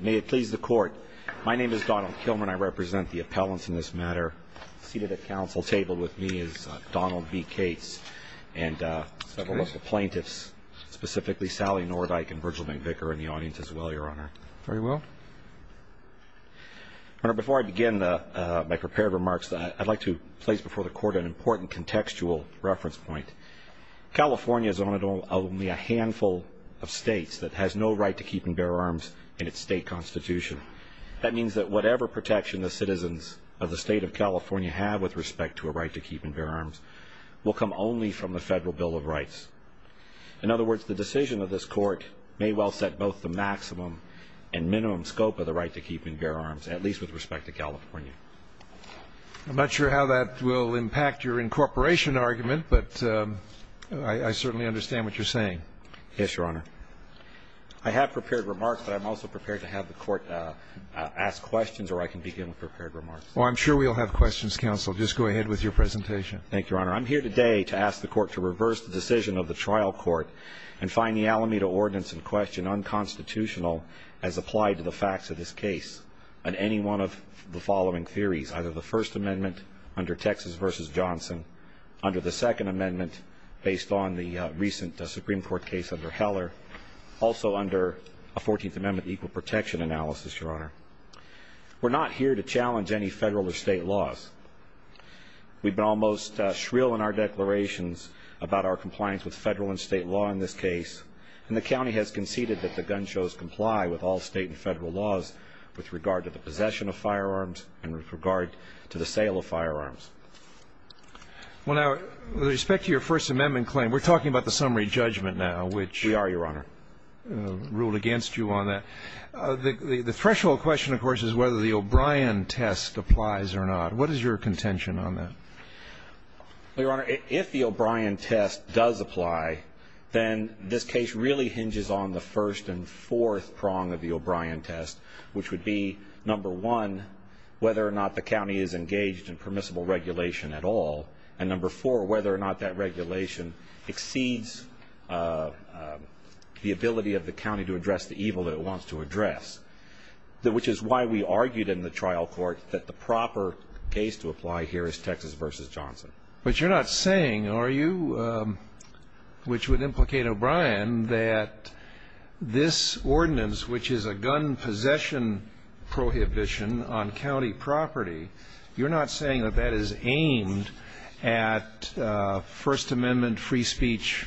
May it please the court. My name is Donald Kilmer and I represent the appellants in this matter. Seated at council table with me is Donald B. Cates and several plaintiffs, specifically Sally Nordyke and Virgil McVicker in the audience as well, Your Honor. Very well. Before I begin my prepared remarks, I'd like to place before the court an important contextual reference point. California is only a handful of states that has no right to keep and its state constitution. That means that whatever protection the citizens of the state of California have with respect to a right to keep and bear arms will come only from the federal Bill of Rights. In other words, the decision of this court may well set both the maximum and minimum scope of the right to keep and bear arms, at least with respect to California. I'm not sure how that will impact your incorporation argument, but I certainly understand what you're saying. Yes, Your Honor. I have prepared remarks, but I'm also prepared to have the court ask questions or I can begin with prepared remarks. Well, I'm sure we'll have questions, counsel. Just go ahead with your presentation. Thank you, Your Honor. I'm here today to ask the court to reverse the decision of the trial court and find the Alameda ordinance in question unconstitutional as applied to the facts of this case on any one of the following theories, either the First Amendment under Texas v. Johnson, under the Second Amendment based on the recent Supreme Court case under Heller, also under a 14th Amendment equal protection analysis, Your Honor. We're not here to challenge any federal or state laws. We've been almost shrill in our declarations about our compliance with federal and state law in this case, and the county has conceded that the gun shows comply with all state and federal laws with regard to the possession of firearms and with regard to the sale of firearms. Well, now, with summary judgment now, which we are, Your Honor, ruled against you on that, the threshold question, of course, is whether the O'Brien test applies or not. What is your contention on that? Your Honor, if the O'Brien test does apply, then this case really hinges on the first and fourth prong of the O'Brien test, which would be, number one, whether or not the county is engaged in permissible regulation at all, and number four, whether or not that regulation exceeds the ability of the county to address the evil that it wants to address, which is why we argued in the trial court that the proper case to apply here is Texas v. Johnson. But you're not saying, are you, which would implicate O'Brien, that this ordinance, which is a gun possession prohibition on county property, you're not saying that that is aimed at First Amendment free speech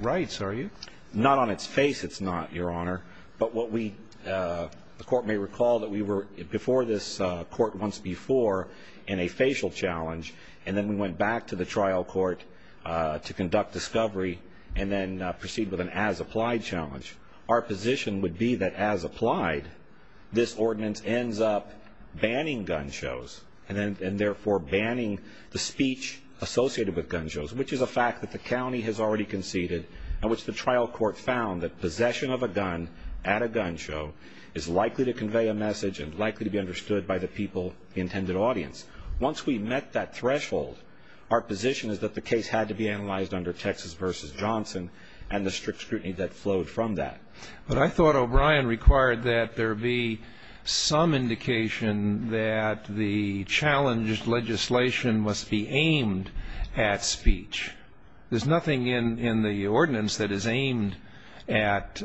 rights, are you? Not on its face it's not, Your Honor. But what we, the court may recall that we were before this court once before in a facial challenge, and then we went back to the trial court to conduct discovery and then proceed with an as-applied challenge. Our position would be that as applied, this ordinance ends up banning gun shows and therefore banning the speech associated with gun shows, which is a fact that the county has already conceded and which the trial court found that possession of a gun at a gun show is likely to convey a message and likely to be understood by the people, the intended audience. Once we met that threshold, our position is that the case had to be analyzed under Texas v. Johnson and the strict scrutiny that flowed from that. But I thought O'Brien required that there be some indication that the challenged legislation must be aimed at speech. There's nothing in the ordinance that is aimed at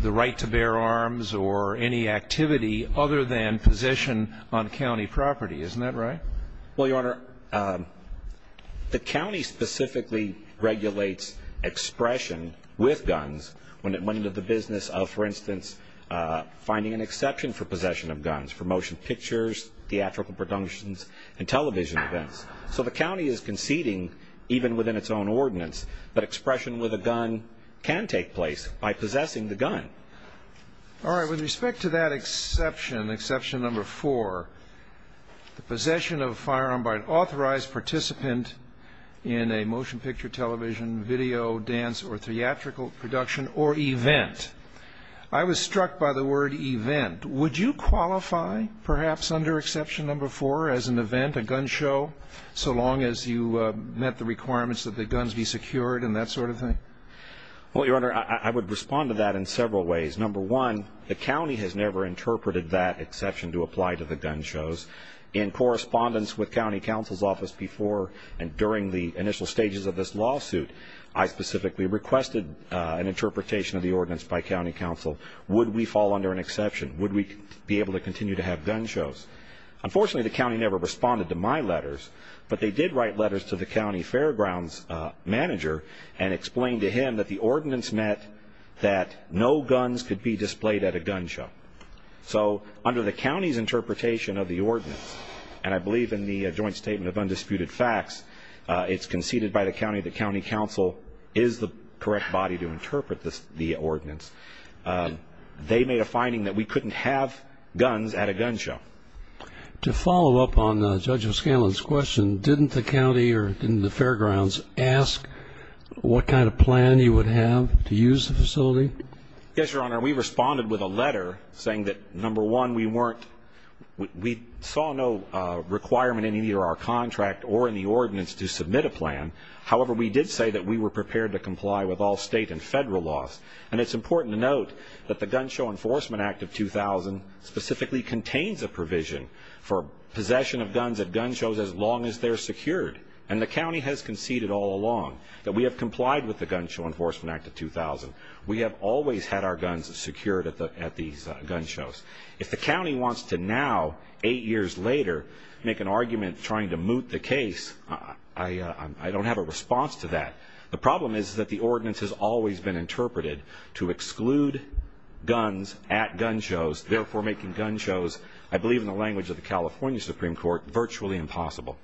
the right to bear arms or any activity other than position on county property, isn't that right? Well, Your Honor, the county specifically regulates expression with guns when it went into the business of, for instance, finding an exception for possession of guns for motion pictures, theatrical productions and television events. So the county is conceding even within its own ordinance, but expression with a gun can take place by possessing the gun. All right. With respect to that exception, exception number four, the possession of a firearm by an authorized participant in a motion picture, television, video, dance or theatrical production or event. I was struck by the word event. Would you qualify perhaps under exception number four as an event, a gun show, so long as you met the requirements that the guns be secured and that sort of thing? Well, Your Honor, I would respond to that in several ways. Number one, the county has never interpreted that exception to apply to the gun shows in correspondence with county council's office before and during the initial stages of this lawsuit. I specifically requested an interpretation of the ordinance by county council. Would we fall under an exception? Would we be able to continue to have gun shows? Unfortunately, the county never responded to my letters, but they did write letters to the county fairgrounds manager and explained to him that the ordinance met that no guns could be displayed at a gun show. And I believe in the joint statement of undisputed facts, it's conceded by the county that county council is the correct body to interpret this, the ordinance. They made a finding that we couldn't have guns at a gun show. To follow up on Judge O'Scanlan's question, didn't the county or didn't the fairgrounds ask what kind of plan you would have to use the facility? Yes, Your Honor. We responded with a letter saying that, number one, we saw no requirement in either our contract or in the ordinance to submit a plan. However, we did say that we were prepared to comply with all state and federal laws. And it's important to note that the Gun Show Enforcement Act of 2000 specifically contains a provision for possession of guns at gun shows as long as they're secured. And the county has conceded all along that we have complied with the Gun Show Enforcement Act of 2000. We have always had our guns secured at these gun shows. If the county wants to now, eight years later, make an argument trying to moot the case, I don't have a response to that. The problem is that the ordinance has always been interpreted to exclude guns at gun shows, therefore making gun shows, I believe in the language of the California Supreme Court, virtually impossible.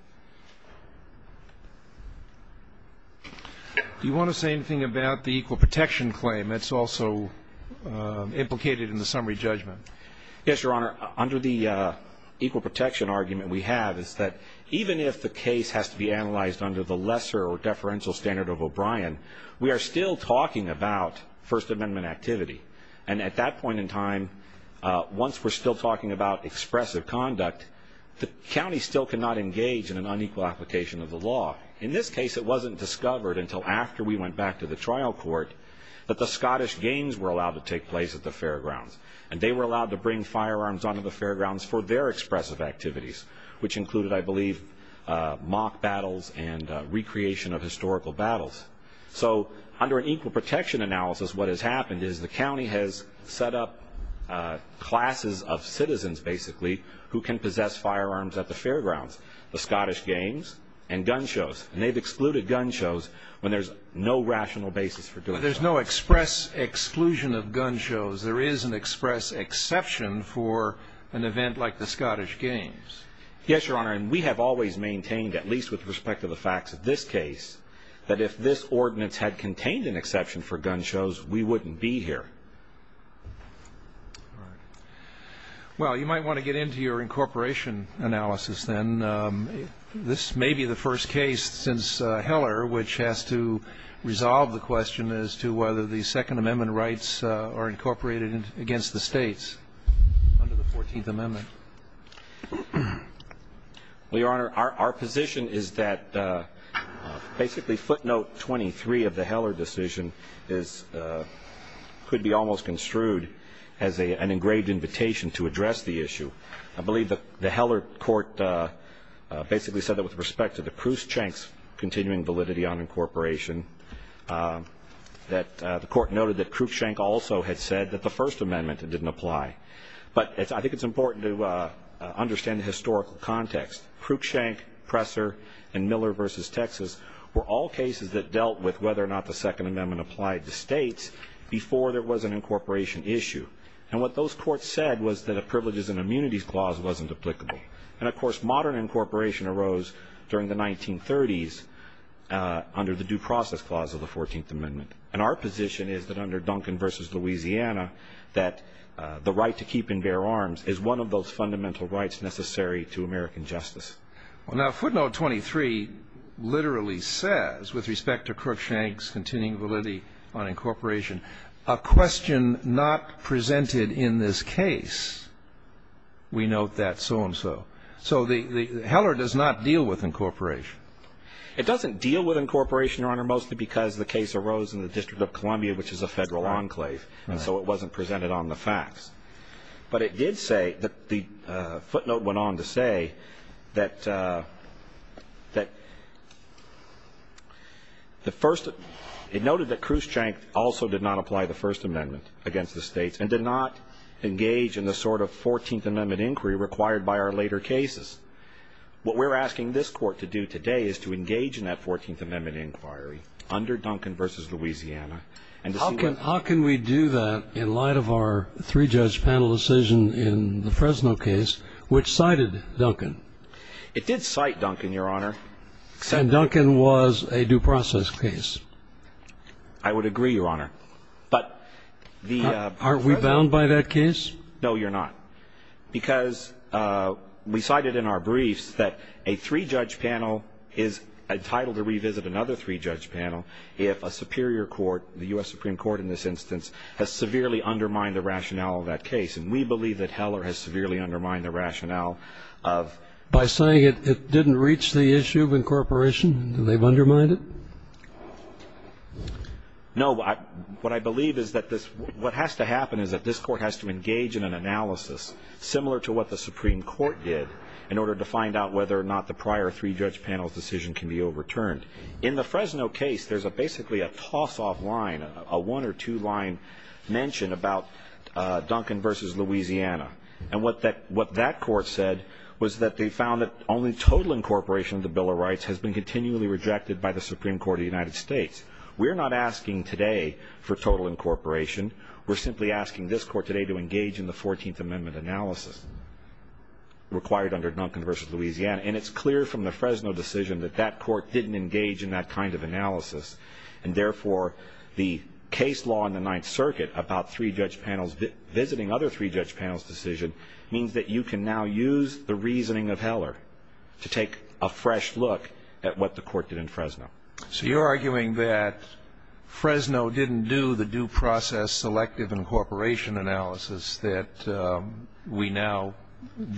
Do you want to say anything about the equal protection claim? It's also implicated in the summary judgment. Yes, Your Honor. Under the equal protection argument we have is that even if the case has to be analyzed under the lesser or deferential standard of O'Brien, we are still talking about First Amendment activity. And at that point in time, once we're still talking about expressive conduct, the county still cannot engage in an unequal application of the law. In this case, it wasn't discovered until after we went back to the trial court that the Scottish games were allowed to take place at the fairgrounds. And they were allowed to bring firearms onto the fairgrounds for their expressive activities, which included, I believe, mock battles and recreation of historical battles. So under an equal protection analysis, what has happened is the county has set up classes of citizens, basically, who can possess firearms at the fairgrounds, the Scottish games and gun shows. And they've excluded gun shows when there's no rational basis for doing so. But there's no express exclusion of gun shows. There is an express exception for an event like the Scottish games. Yes, Your Honor. And we have always maintained, at least with respect to the facts of this case, that if this ordinance had contained an exception for gun shows, we wouldn't be here. All right. Well, you might want to get into your incorporation analysis then. This may be the first case since Heller which has to resolve the question as to whether the Second Amendment rights are incorporated against the States under the Fourteenth Amendment. Well, Your Honor, our position is that basically footnote 23 of the Heller decision could be almost construed as an engraved invitation to address the issue. I believe that the Heller court basically said that with respect to the Cruikshank's continuing validity on incorporation, that the court noted that Cruikshank also had said that the First Amendment didn't apply. But I think it's important to understand the historical context. Cruikshank, Presser and Miller v. Texas were all cases that dealt with whether or not the Second Amendment applied to States before there was an incorporation issue. And what those courts said was that a privileges and immunities clause wasn't applicable. And of course, modern incorporation arose during the 1930s under the due process clause of the Fourteenth Amendment. And our position is that under Duncan v. Louisiana, that the right to keep and bear arms is one of those fundamental rights necessary to American justice. Well, now footnote 23 literally says, with respect to Cruikshank's continuing validity on incorporation, a question not presented in this case. We note that so-and-so. So the Heller does not deal with incorporation. It doesn't deal with incorporation, Your Honor, mostly because the case arose in the District of Columbia, which is a federal enclave. And so it wasn't presented on the facts. But it did say that the footnote went on to say that the first it noted that Cruikshank also did not apply the First Amendment against the States and did not engage in the sort of Fourteenth Amendment inquiry required by our later cases. What we're asking this court to do today is to engage in that Fourteenth Amendment inquiry under Duncan v. Louisiana. And how can how can we do that in light of our three-judge panel decision in the Fresno case, which cited Duncan? It did cite Duncan, Your Honor. And Duncan was a due process case. I would agree, Your Honor. But are we bound by that case? No, you're not. Because we cited in our briefs that a three-judge panel is entitled to revisit another three-judge panel if a superior court, the U.S. Supreme Court in this case. And we believe that Heller has severely undermined the rationale of By saying it didn't reach the issue of incorporation and they've undermined it? No. What I believe is that this what has to happen is that this court has to engage in an analysis similar to what the Supreme Court did in order to find out whether or not the prior three-judge panel's decision can be overturned. In the Fresno case, there's a basically a toss-off line, a one or two-line mention about Duncan v. Louisiana. And what that court said was that they found that only total incorporation of the Bill of Rights has been continually rejected by the Supreme Court of the United States. We're not asking today for total incorporation. We're simply asking this court today to engage in the 14th Amendment analysis required under Duncan v. Louisiana. And it's clear from the Fresno decision that that court didn't engage in that kind of analysis. And therefore, the case law in the Ninth Circuit about three-judge panels visiting other three-judge panel's decision means that you can now use the reasoning of Heller to take a fresh look at what the court did in Fresno. So you're arguing that Fresno didn't do the due process selective incorporation analysis that we now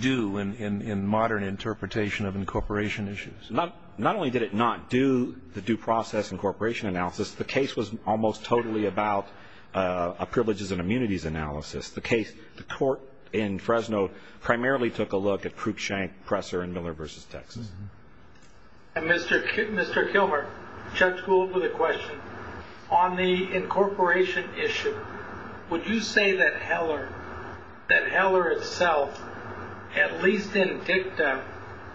do in modern interpretation of incorporation issues? Not only did it not do the due process incorporation analysis, the case was almost totally about a privileges and immunities analysis. The case, the court in Fresno primarily took a look at Cruikshank, Presser, and Miller v. Texas. And Mr. Kilmer, Judge Gould with a question. On the incorporation issue, would you say that Heller, that Heller itself, at least in dicta,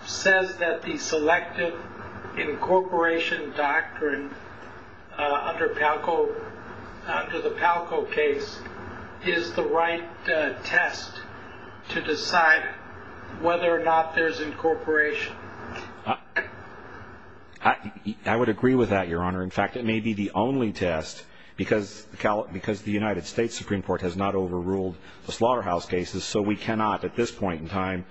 says that the selective incorporation doctrine under the Palco case is the right test to decide whether or not there's incorporation? I would agree with that, Your Honor. In fact, it may be the only test because the United States Supreme Court has not overruled the slaughterhouse cases. So we cannot, at this point in time,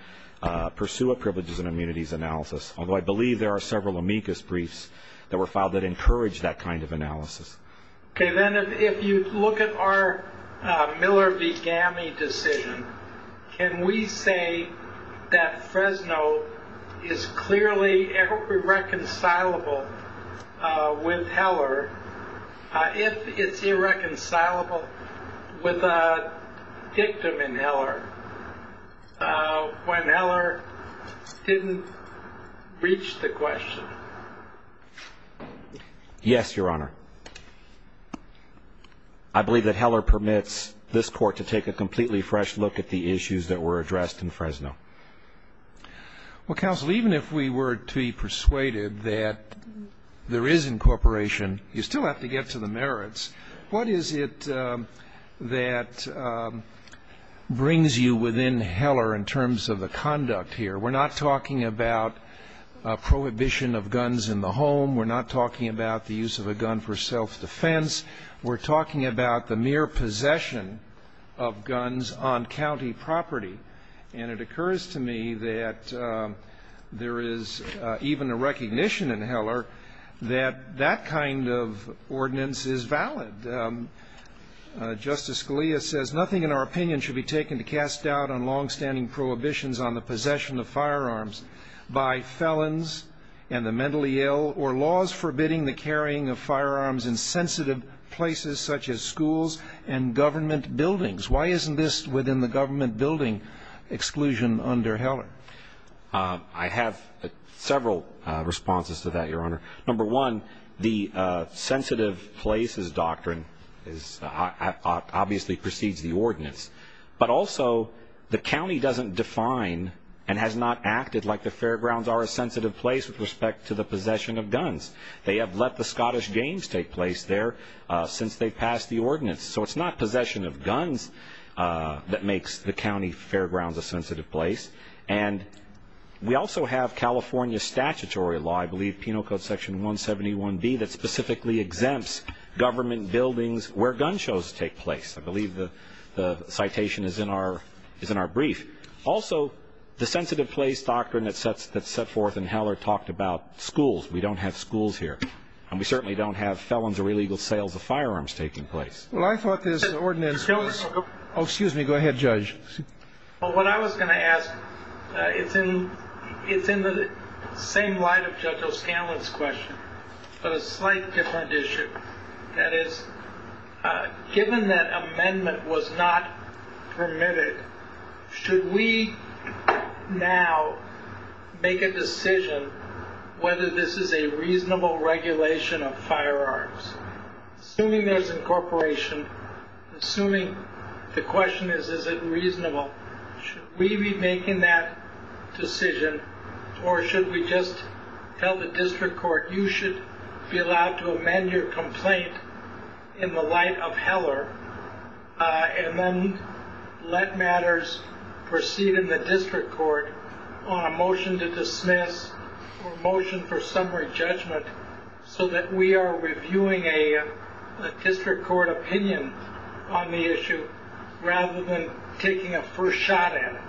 pursue a privileges and immunities analysis. Although I believe there are several amicus briefs that were filed that encourage that kind of analysis. Okay. Then if you look at our Miller v. Gammie decision, can we say that Fresno is clearly irreconcilable with Heller if it's irreconcilable with a court when Heller didn't reach the question? Yes, Your Honor. I believe that Heller permits this court to take a completely fresh look at the issues that were addressed in Fresno. Well, counsel, even if we were to be persuaded that there is incorporation, you still have to get to the merits. What is it that brings you within Heller in terms of the conduct here? We're not talking about prohibition of guns in the home. We're not talking about the use of a gun for self-defense. We're talking about the mere possession of guns on county property. And it seems to me that that kind of ordinance is valid. Justice Scalia says, nothing in our opinion should be taken to cast doubt on longstanding prohibitions on the possession of firearms by felons and the mentally ill or laws forbidding the carrying of firearms in sensitive places such as schools and government buildings. Why isn't this within the government building exclusion under Heller? I have several responses to that, Your Honor. Number one, the sensitive places doctrine obviously precedes the ordinance. But also, the county doesn't define and has not acted like the fairgrounds are a sensitive place with respect to the possession of guns. They have let the Scottish games take place there since they passed the ordinance. So it's not possession of guns that makes the county fairgrounds a sensitive place. And we also have California statutory law, I believe, penal code section 171B, that specifically exempts government buildings where gun shows take place. I believe the citation is in our brief. Also, the sensitive place doctrine that's set forth in Heller talked about schools. We don't have schools here. And we certainly don't have felons or illegal sales of firearms taking place. Well, I thought this ordinance was... Oh, excuse me. Go ahead, Judge. Well, what I was going to ask, it's in the same light of Judge O'Scanlan's question, but a slight different issue. That is, given that amendment was not permitted, should we now make a decision whether this is a reasonable regulation of firearms? Assuming there's incorporation, assuming the question is, is it reasonable? Should we be making that decision or should we just tell the district court, you should be allowed to amend your complaint in the light of Heller and then let matters proceed in the district court on a motion to dismiss or a motion for summary judgment so that we are reviewing a district court opinion on the issue rather than taking a first shot at it?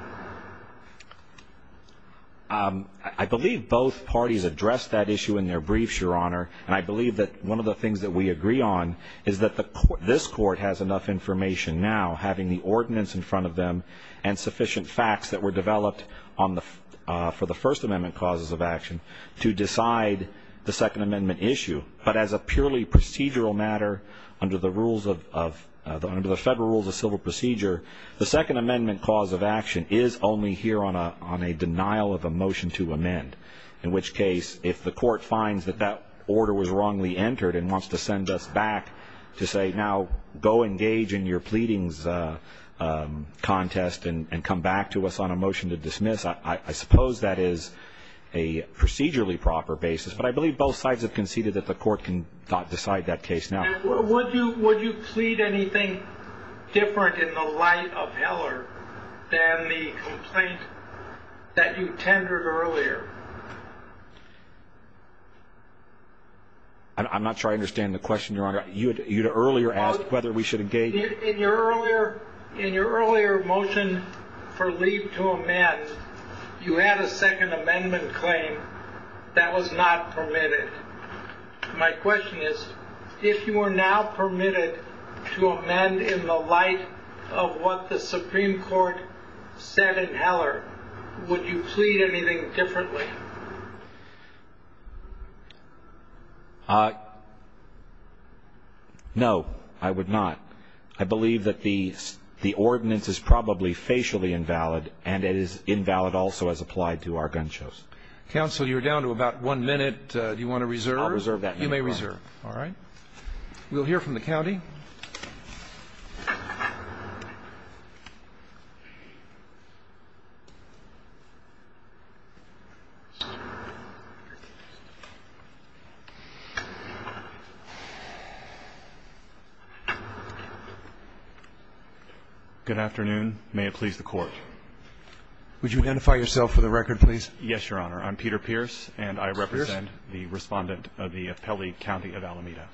I believe both parties addressed that issue in their briefs, Your Honor. And I believe that one of the things that we agree on is that this court has enough information now, having the ordinance in front of them, and sufficient facts that were developed for the First Amendment causes of action to decide the Second Amendment issue. But as a purely procedural matter, under the Federal Rules of Civil Procedure, the Second Amendment cause of action is only here on a denial of a motion to amend. In which case, if the court finds that that order was wrongly entered and wants to send us back to say, now, go engage in your pleadings contest and come back to us on a motion to dismiss, I suppose that is a procedurally proper basis. But I believe both sides have conceded that the court can decide that case now. And would you plead anything different in the light of Heller than the complaint that you tendered earlier? I'm not sure I understand the question. In your earlier motion for leave to amend, you had a Second Amendment claim that was not permitted. My question is, if you were now permitted to amend in the light of what the Supreme Court said in Heller, would you plead anything differently? No, I would not. I believe that the ordinance is probably facially invalid and it is invalid also as applied to our gun shows. Counsel, you're down to about one minute. Do you want to reserve? I'll reserve that. You may reserve. All right. We'll hear from the Court. Good afternoon. May it please the Court. Would you identify yourself for the record, please? Yes, Your Honor. I'm Peter Pierce, and I represent the Respondent of the Appellee County of Alameda.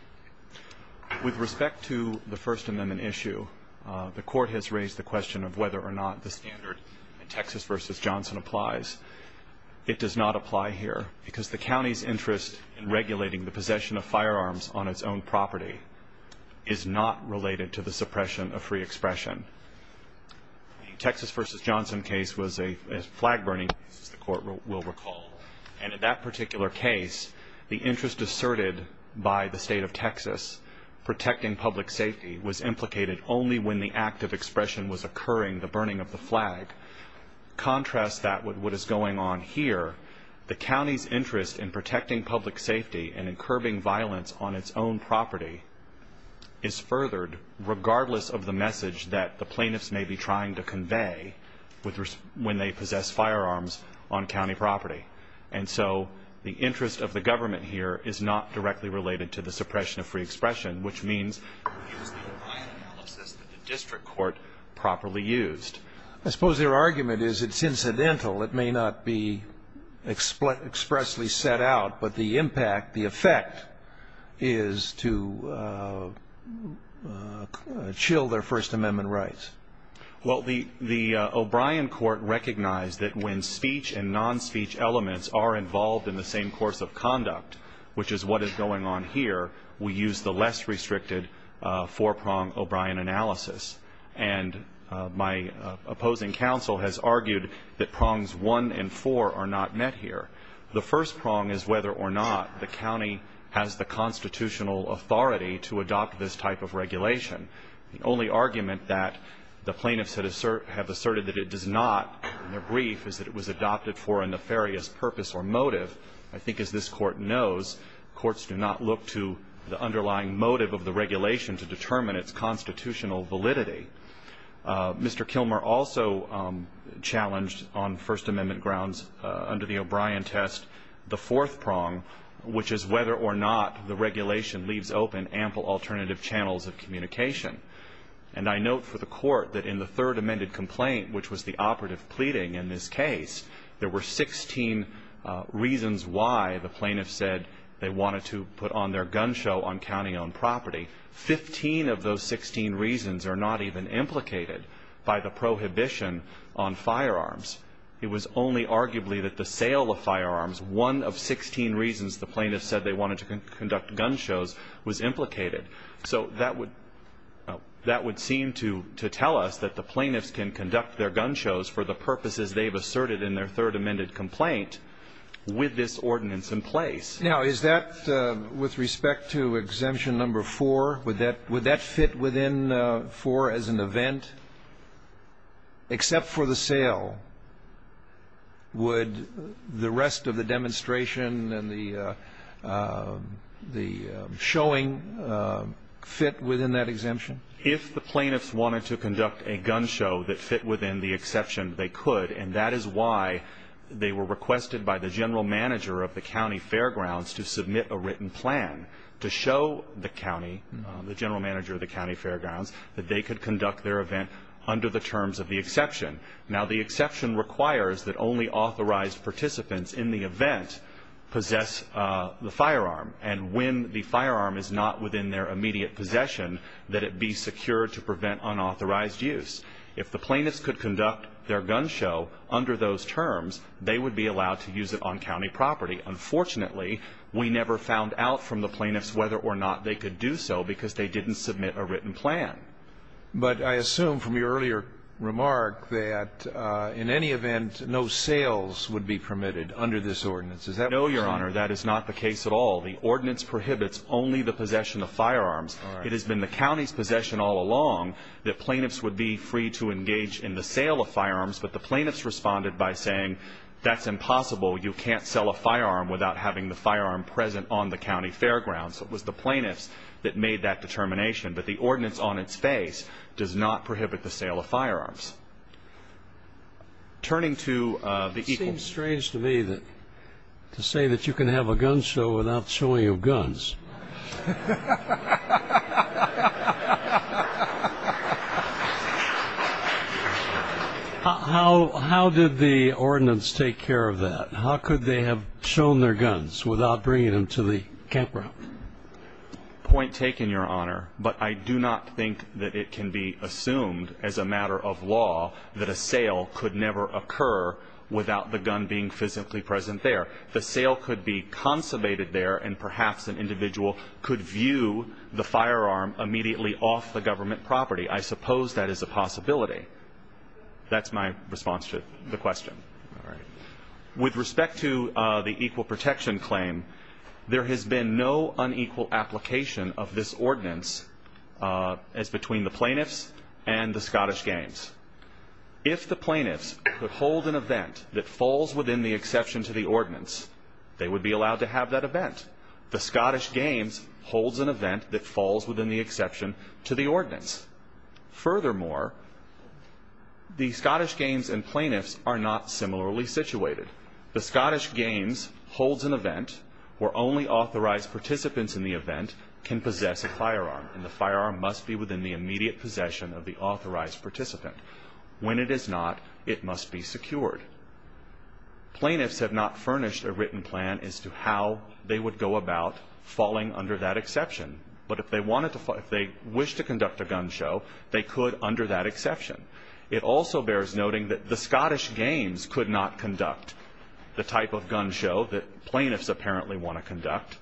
With respect to the First Amendment issue, the Court has raised the question of whether or not the standard in Texas v. Johnson applies. It does not apply here, because the County's interest in regulating the possession of firearms on its own property is not related to the suppression of free expression. The Texas v. Johnson case was a flag-burning case, as the Court will recall. And in that particular case, the interest asserted by the State of Texas protecting public safety was implicated only when the act of expression was occurring, the burning of the flag. Contrast that with what is going on here. The County's interest in protecting public safety and in curbing violence on its own property is furthered, regardless of the message that the plaintiffs may be trying to convey when they possess firearms on County property. And so, the interest of the government here is not directly related to the suppression of free expression, which means it is the O'Brien analysis that the district court properly used. I suppose their argument is it's incidental. It may not be expressly set out, but the impact, the effect, is to chill their First Amendment rights. Well, the O'Brien court recognized that when speech and non-speech elements are involved in the same course of conduct, which is what is going on here, we use the less restricted four-prong O'Brien analysis. And my opposing counsel has argued that prongs one and four are not met here. The first prong is whether or not the county has the constitutional authority to adopt this type of regulation. The only argument that the plaintiffs have asserted that it does not in their brief is that it was adopted for a nefarious purpose or the underlying motive of the regulation to determine its constitutional validity. Mr. Kilmer also challenged on First Amendment grounds under the O'Brien test the fourth prong, which is whether or not the regulation leaves open ample alternative channels of communication. And I note for the court that in the third amended complaint, which was the operative pleading in this case, there were 16 reasons why the plaintiffs said they wanted to put on their gun show on county-owned property. Fifteen of those 16 reasons are not even implicated by the prohibition on firearms. It was only arguably that the sale of firearms, one of 16 reasons the plaintiffs said they wanted to conduct gun shows, was implicated. So that would seem to tell us that the plaintiffs can conduct their gun shows for the purposes they've asserted in their third amended complaint with this ordinance in place. Now, is that with respect to exemption number four, would that fit within four as an event? Except for the sale, would the rest of the demonstration and the showing fit within that exemption? If the plaintiffs wanted to conduct a gun show that fit within the exception, they could. And that is why they were requested by the general manager of the county fairgrounds to submit a written plan to show the county, the general manager of the county fairgrounds, that they could conduct their event under the terms of the exception. Now, the exception requires that only authorized participants in the event possess the firearm. And when the firearm is not within their immediate possession, that it be secured to prevent unauthorized use. If the plaintiffs could conduct their gun show under those terms, they would be allowed to use it on county property. Unfortunately, we never found out from the plaintiffs whether or not they could do so because they didn't submit a written plan. But I assume from your earlier remark that in any event, no sales would be permitted under this ordinance. Is that right? No, Your Honor. That is not the case at all. The ordinance prohibits only the possession of firearms. It has been the county's possession all along that plaintiffs would be free to engage in the sale of firearms. But the plaintiffs responded by saying, that's impossible. You can't sell a firearm without having the firearm present on the county fairgrounds. It was the plaintiffs that made that determination. But the ordinance on its face does not prohibit the sale of firearms. Turning to the equal It seems strange to me to say that you can have a gun show without showing of guns. How did the ordinance take care of that? How could they have shown their guns without bringing them to the campground? Point taken, Your Honor. But I do not think that it can be assumed as a matter of law that a sale could never occur without the gun being physically present there. The sale could be consummated there and perhaps an individual could view the firearm immediately off the government property. I suppose that is a possibility. That's my response to the question. With respect to the equal protection claim, there has been no unequal application of this ordinance as between the plaintiffs and the Scottish Games. If the plaintiffs could hold an event that falls within the exception to the ordinance, they would be allowed to have that event. The Scottish Games holds an event that falls within the exception to the ordinance. Furthermore, the Scottish Games and plaintiffs are not similarly situated. The Scottish Games holds an event where only authorized participants in the event can possess a firearm, and the firearm must be within the immediate possession of the authorized participant. When it is not, it must be secured. Plaintiffs have not furnished a written plan as to how they would go about falling under that exception, but if they wanted to, if they wish to conduct a gun show, they could under that exception. It also bears noting that the Scottish Games could not conduct the type of gun show that plaintiffs apparently want to conduct,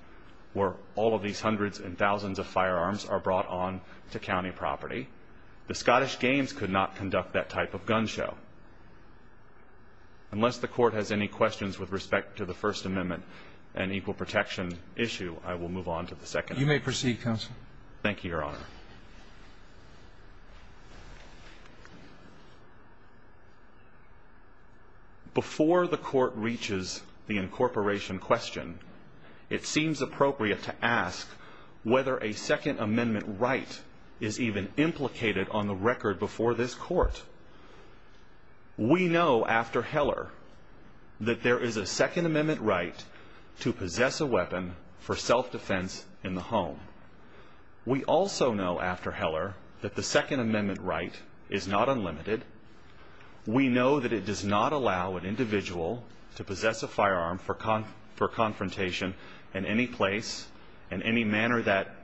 where all of these hundreds and thousands of firearms are brought on to Unless the court has any questions with respect to the First Amendment and equal protection issue, I will move on to the second. You may proceed, counsel. Thank you, Your Honor. Before the court reaches the incorporation question, it seems appropriate to ask whether a Second Amendment right is even implicated on the record before this court. We know after Heller that there is a Second Amendment right to possess a weapon for self-defense in the home. We also know after Heller that the Second Amendment right is not unlimited. We know that it does not allow an individual to possess a firearm for confrontation in any place, in any manner that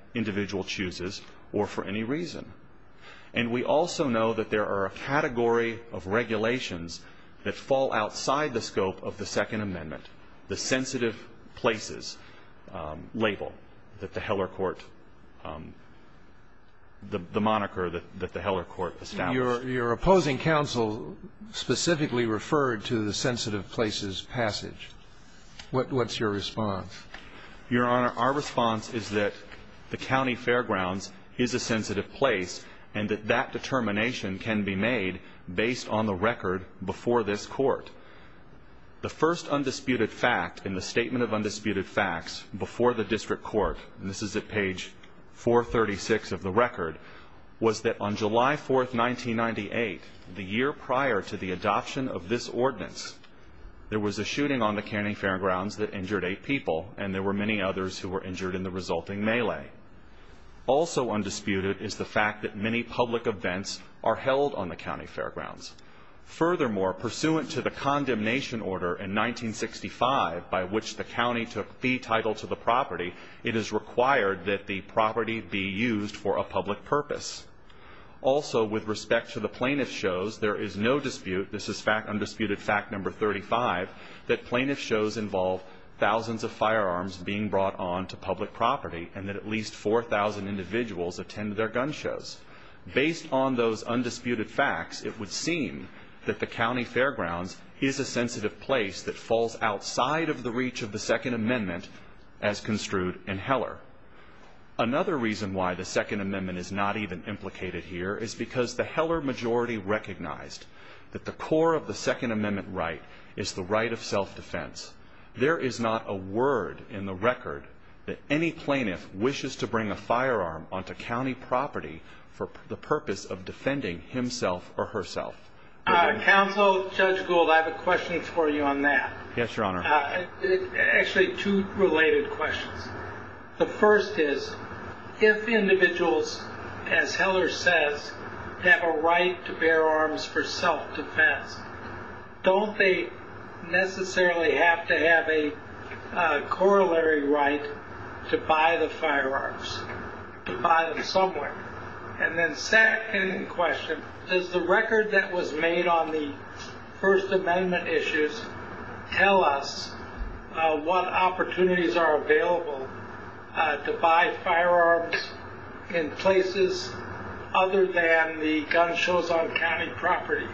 Your Honor, our response is that the county fairgrounds is a sensitive place and that determination can be made based on the record before this court. The first undisputed fact in the Statement of Undisputed Facts before the District Court, and this is at page 436 of the record, was that on July 4th, 1998, the year prior to the adoption of this ordinance, there was a shooting on the county fairgrounds that injured eight people and there were many others who were injured in the resulting melee. Also undisputed is the fact that many public events are held on the county fairgrounds. Furthermore, pursuant to the condemnation order in 1965, by which the county took fee title to the property, it is required that the property be used for a public purpose. Also, with respect to the plaintiff shows, there is no dispute, this is fact undisputed fact number 35, that plaintiff shows involve thousands of firearms being brought on to public property and that at least 4,000 individuals attended their gun shows. Based on those undisputed facts, it would seem that the county fairgrounds is a sensitive place that falls outside of the reach of the Second Amendment as construed in Heller. Another reason why the Second Amendment is not even implicated here is because the Heller majority recognized that the core of the Second Amendment right is the right of self-defense. There is not a word in the record that any plaintiff wishes to bring a firearm onto county property for the purpose of defending himself or herself. Counsel, Judge Gould, I have a question for you on that. Yes, Your Honor. Actually, two related questions. The first is, if individuals, as Heller says, have a right to bear arms for self-defense, don't they necessarily have to have a corollary right to buy the firearms, to buy them somewhere? And then second question, does the record that was made on the First Amendment issues tell us what opportunities are available to buy firearms in places other than the gun shows on county property?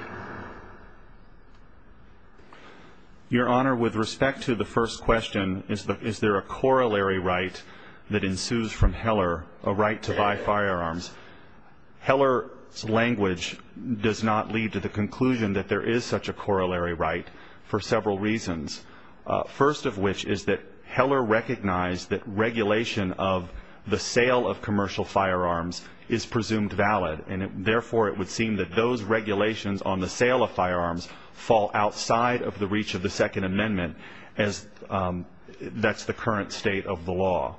Your Honor, with respect to the first question, is there a corollary right that ensues from Heller, a right to buy firearms? Heller's language does not lead to the conclusion that there is such a corollary right for several reasons. First of which is that Heller recognized that regulation of the sale of commercial firearms is presumed valid, and therefore it would seem that those regulations on the sale of firearms fall outside of the reach of the Second Amendment, as that's the current state of the law.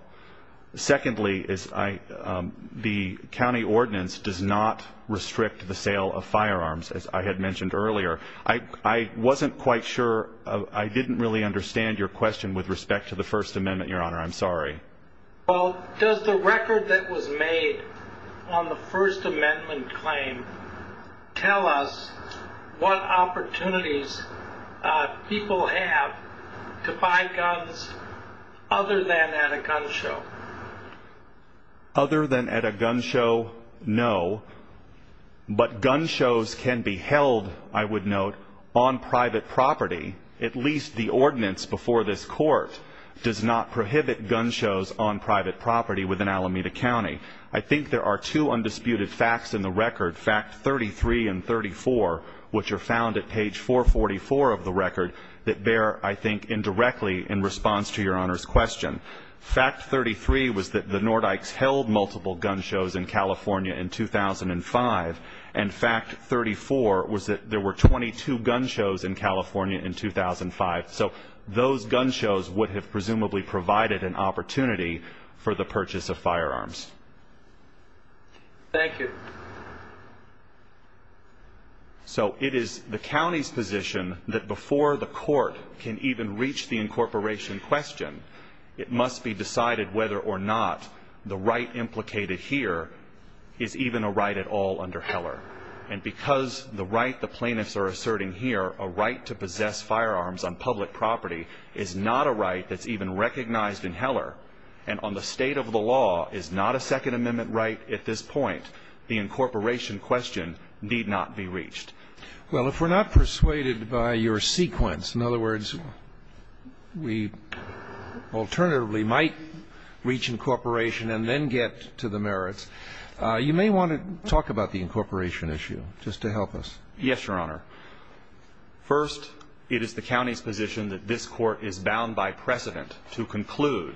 Secondly, the county ordinance does not restrict the sale of firearms, as I had mentioned earlier. I wasn't quite sure. I didn't really understand your question with respect to the First Amendment, Your Honor. I'm sorry. Well, does the record that was made on the First Amendment claim tell us what opportunities people have to buy guns other than at a gun show? Other than at a gun show? No. But gun shows can be held, I would note, on private property within Alameda County. I think there are two undisputed facts in the record, fact 33 and 34, which are found at page 444 of the record that bear, I think, indirectly in response to Your Honor's question. Fact 33 was that the Nordykes held multiple gun shows in California in 2005, and fact 34 was that there were 22 gun shows in California in 2005. So those gun shows would have presumably provided an opportunity for the purchase of firearms. Thank you. So it is the county's position that before the court can even reach the incorporation question, it must be decided whether or not the right implicated here is even a right at all under Heller. And because the right the plaintiffs are asserting here, a right to possess firearms on public property, is not a right that's even recognized in Heller, and on the state of the law, is not a Second Amendment right at this point, the incorporation question need not be reached. Well, if we're not persuaded by your sequence, in other words, we alternatively might reach incorporation and then get to the merits, you may want to talk about the incorporation issue, just to help us. Yes, it is the county's position that this court is bound by precedent to conclude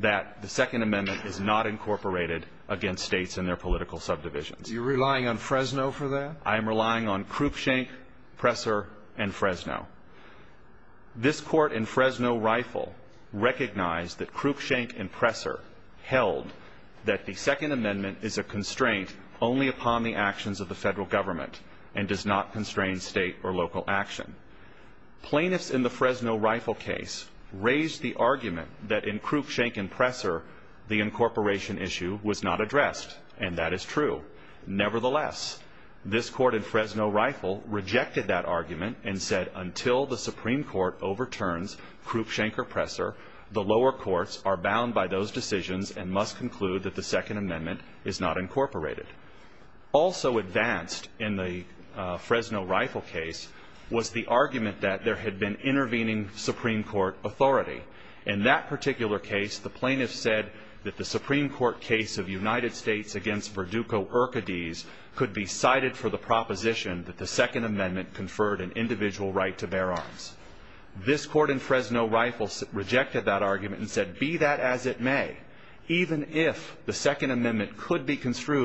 that the Second Amendment is not incorporated against states in their political subdivisions. You're relying on Fresno for that? I'm relying on Krupschank, Presser and Fresno. This court in Fresno Rifle recognized that Krupschank and Presser held that the Second Amendment is a constraint only upon the actions of the federal government, and does not constrain state or local action. Plaintiffs in the Fresno Rifle case raised the argument that in Krupschank and Presser, the incorporation issue was not addressed, and that is true. Nevertheless, this court in Fresno Rifle rejected that argument and said until the Supreme Court overturns Krupschank or Presser, the lower courts are bound by those decisions and must conclude that the Second Amendment is not incorporated. Also advanced in the Fresno Rifle case was the argument that there had been intervening Supreme Court authority. In that particular case, the plaintiffs said that the Supreme Court case of the United States against Verdugo- Urquidez could be cited for the proposition that the Second Amendment conferred an individual right to bear arms. This court in Fresno Rifle rejected that argument and said, be that as it may, even if the Second Amendment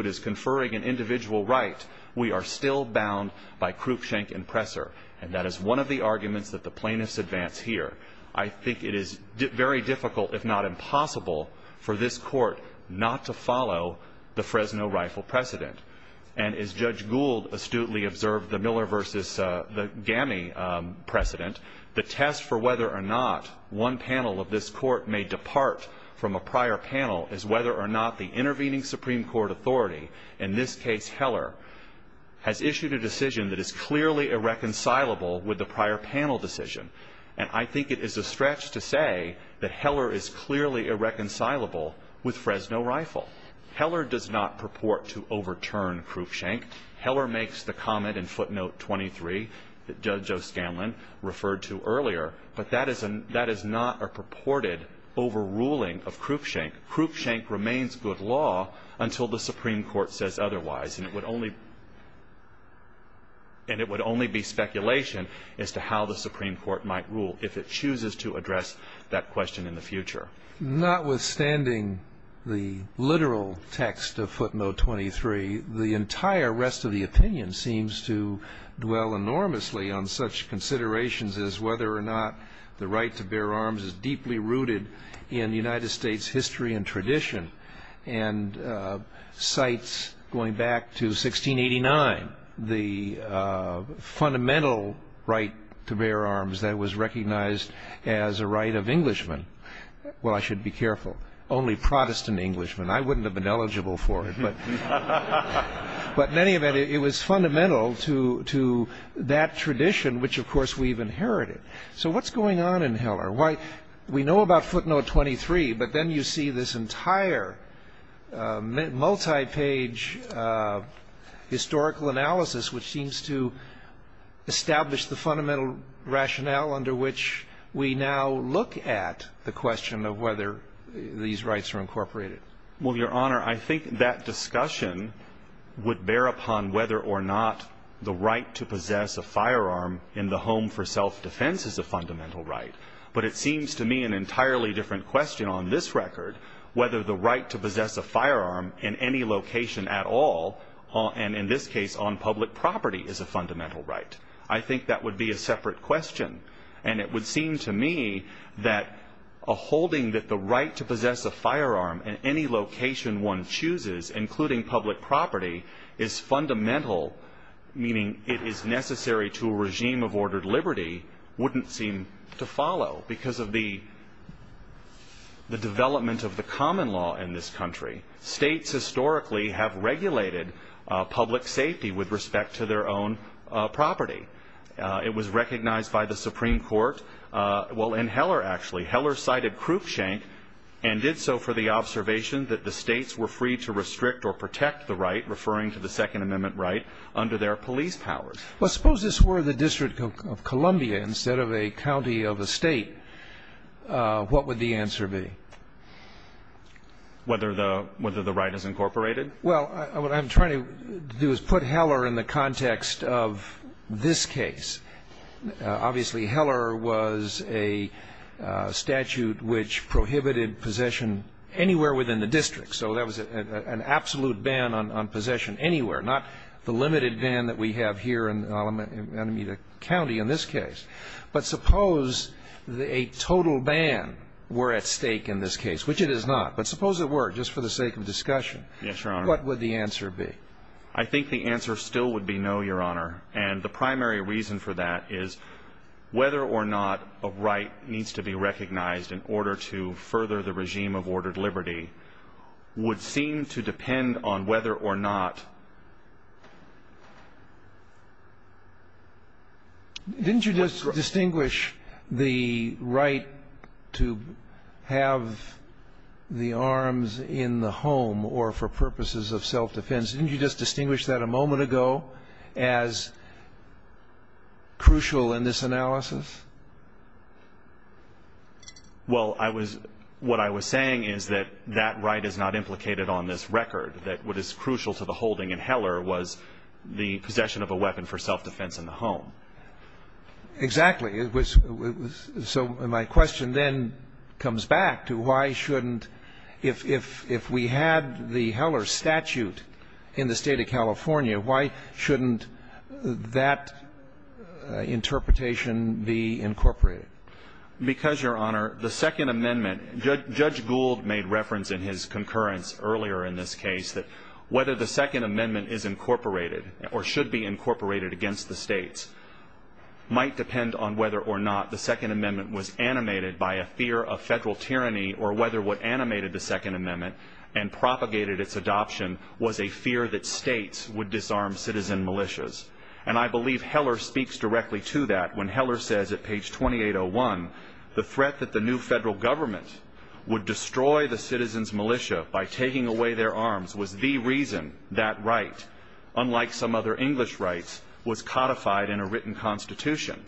is conferring an individual right, we are still bound by Krupschank and Presser. And that is one of the arguments that the plaintiffs advance here. I think it is very difficult, if not impossible, for this court not to follow the Fresno Rifle precedent. And as Judge Gould astutely observed the Miller v. Gamme precedent, the test for whether or not one panel of this court may depart from a prior panel is whether or not the intervening Supreme Court authority, in this case Heller, has issued a decision that is clearly irreconcilable with the prior panel decision. And I think it is a stretch to say that Heller is clearly irreconcilable with Fresno Rifle. Heller does not purport to overturn Krupschank. Heller makes the comment in footnote 23 that Judge O'Scanlan referred to earlier, but that is not a purported overruling of Krupschank. Krupschank remains good law until the Supreme Court says otherwise. And it would only be speculation as to how the Supreme Court might rule if it chooses to address that question in the future. Notwithstanding the literal text of footnote 23, the entire rest of the opinion seems to dwell enormously on such considerations as whether or not the right to bear arms is deeply rooted in United States history and tradition. And cites, going back to 1689, the fundamental right to bear arms that was recognized as a right of Englishmen. Well, I should be careful. Only Protestant Englishmen. I wouldn't have been eligible for it. But in any event, it was fundamental to that tradition which, of course, we've inherited. So what's going on in Heller? Why we know about footnote 23, but then you see this entire multi-page historical analysis which seems to establish the fundamental rationale under which we now look at the question of whether these rights are incorporated. Well, Your Honor, I think that discussion would bear upon whether or not the right to possess a firearm in the home for self-defense is a fundamental right. But it seems to me an entirely different question on this record, whether the right to possess a firearm in any location at all, and in this case on public property, is a fundamental right. I think that would be a separate question. And it would seem to me that a holding that the right to possess a firearm in any location one chooses, including public property, is fundamental, meaning it is necessary to a regime of ordered liberty, wouldn't seem to follow. Because of the development of the common law in this country, states historically have regulated public safety with respect to their own property. It was recognized by the Supreme Court. Well, in Heller actually. Heller cited Krupschank and did so for the observation that the states were free to restrict or protect the right, referring to the Second Amendment right, under their police powers. Well, suppose this were the District of Columbia instead of a county of a state, what would the answer be? Whether the right is incorporated? Well, what I'm trying to do is put Heller in the context of this case. Obviously, Heller was a statute which prohibited possession anywhere within the district. So that was an absolute ban on possession anywhere, not the limited ban that we have here in Alameda County in this case. But suppose a total ban were at stake in this case, which it is not. But suppose it were, just for the sake of discussion. Yes, Your Honor. What would the answer be? I think the answer still would be no, Your Honor. And the primary reason for that is whether or not a right needs to be recognized in order to further the regime of ordered liberty would seem to depend on whether or not... Didn't you just distinguish the right to have the arms in the home or for purposes of self-defense? Didn't you just distinguish that a moment ago as saying is that that right is not implicated on this record, that what is crucial to the holding in Heller was the possession of a weapon for self-defense in the home? Exactly. So my question then comes back to why shouldn't, if we had the Heller statute in the State of California, why shouldn't that interpretation be incorporated? Because, Your Honor, the Second Amendment, Judge Gould made reference in his concurrence earlier in this case that whether the Second Amendment is incorporated or should be incorporated against the states might depend on whether or not the Second Amendment was animated by a fear of federal tyranny or whether what animated the Second Amendment and propagated its adoption was a fear that states would disarm citizen militias. And I believe Heller speaks directly to that when Heller says at page 2801, the threat that the new federal government would destroy the citizens' militia by taking away their arms was the reason that right, unlike some other English rights, was codified in a written constitution.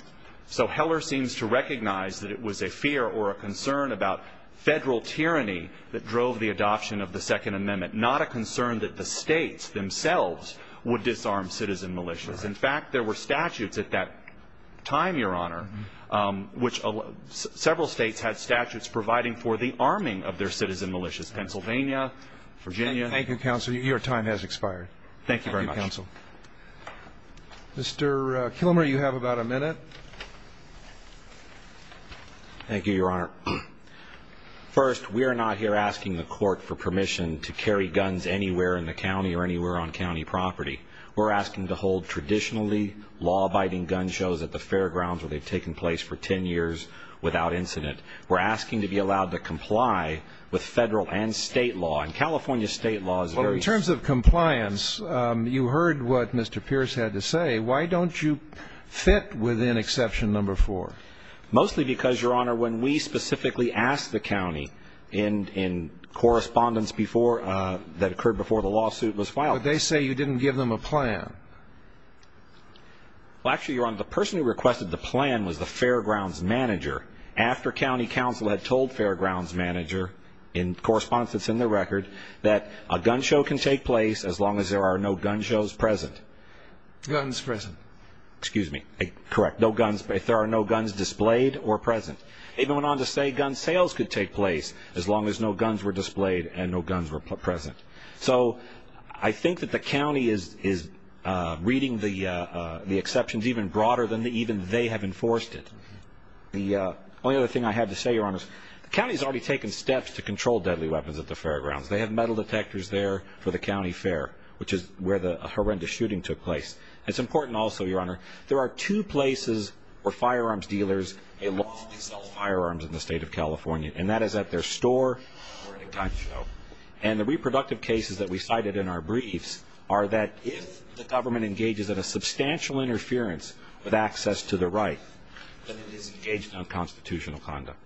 So Heller seems to recognize that it was a fear or a concern about federal tyranny that drove the adoption of the Second Amendment, not a concern that the states themselves would disarm citizen militias. In fact, there were statutes at that time, Your Honor, which several states had statutes providing for the arming of their citizen militias, Pennsylvania, Virginia. Thank you, Counsel. Your time has expired. Thank you very much. Thank you, Counsel. Mr. Kilmer, you have about a minute. Thank you, Your Honor. First, we are not here asking the court for permission to carry guns anywhere in the county or anywhere on county property. We're asking to hold traditionally law-abiding gun shows at the fairgrounds where they've taken place for 10 years without incident. We're asking to be allowed to comply with federal and state law. And California state law is very... Well, in terms of compliance, you heard what Mr. Pierce had to say. Why don't you fit within exception number four? Mostly because, Your Honor, when we specifically asked the county in correspondence before, that occurred before the lawsuit was filed... Well, they say you didn't give them a plan. Well, actually, Your Honor, the person who requested the plan was the fairgrounds manager after county counsel had told fairgrounds manager, in correspondence that's in the record, that a gun show can take place as long as there are no gun shows present. Guns present. Excuse me. Correct. No guns. If there are no guns displayed or present. They went on to say gun sales could take place as long as no guns were present. I think that the county is reading the exceptions even broader than even they have enforced it. The only other thing I have to say, Your Honor, the county has already taken steps to control deadly weapons at the fairgrounds. They have metal detectors there for the county fair, which is where the horrendous shooting took place. It's important also, Your Honor, there are two places where firearms dealers, they lawfully sell firearms in the state of California. And that is at their store or at a gun show. And the is that if the government engages in a substantial interference with access to the right, then it is engaged in unconstitutional conduct.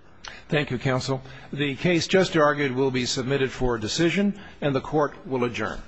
Thank you, counsel. The case just argued will be submitted for decision and the court will adjourn.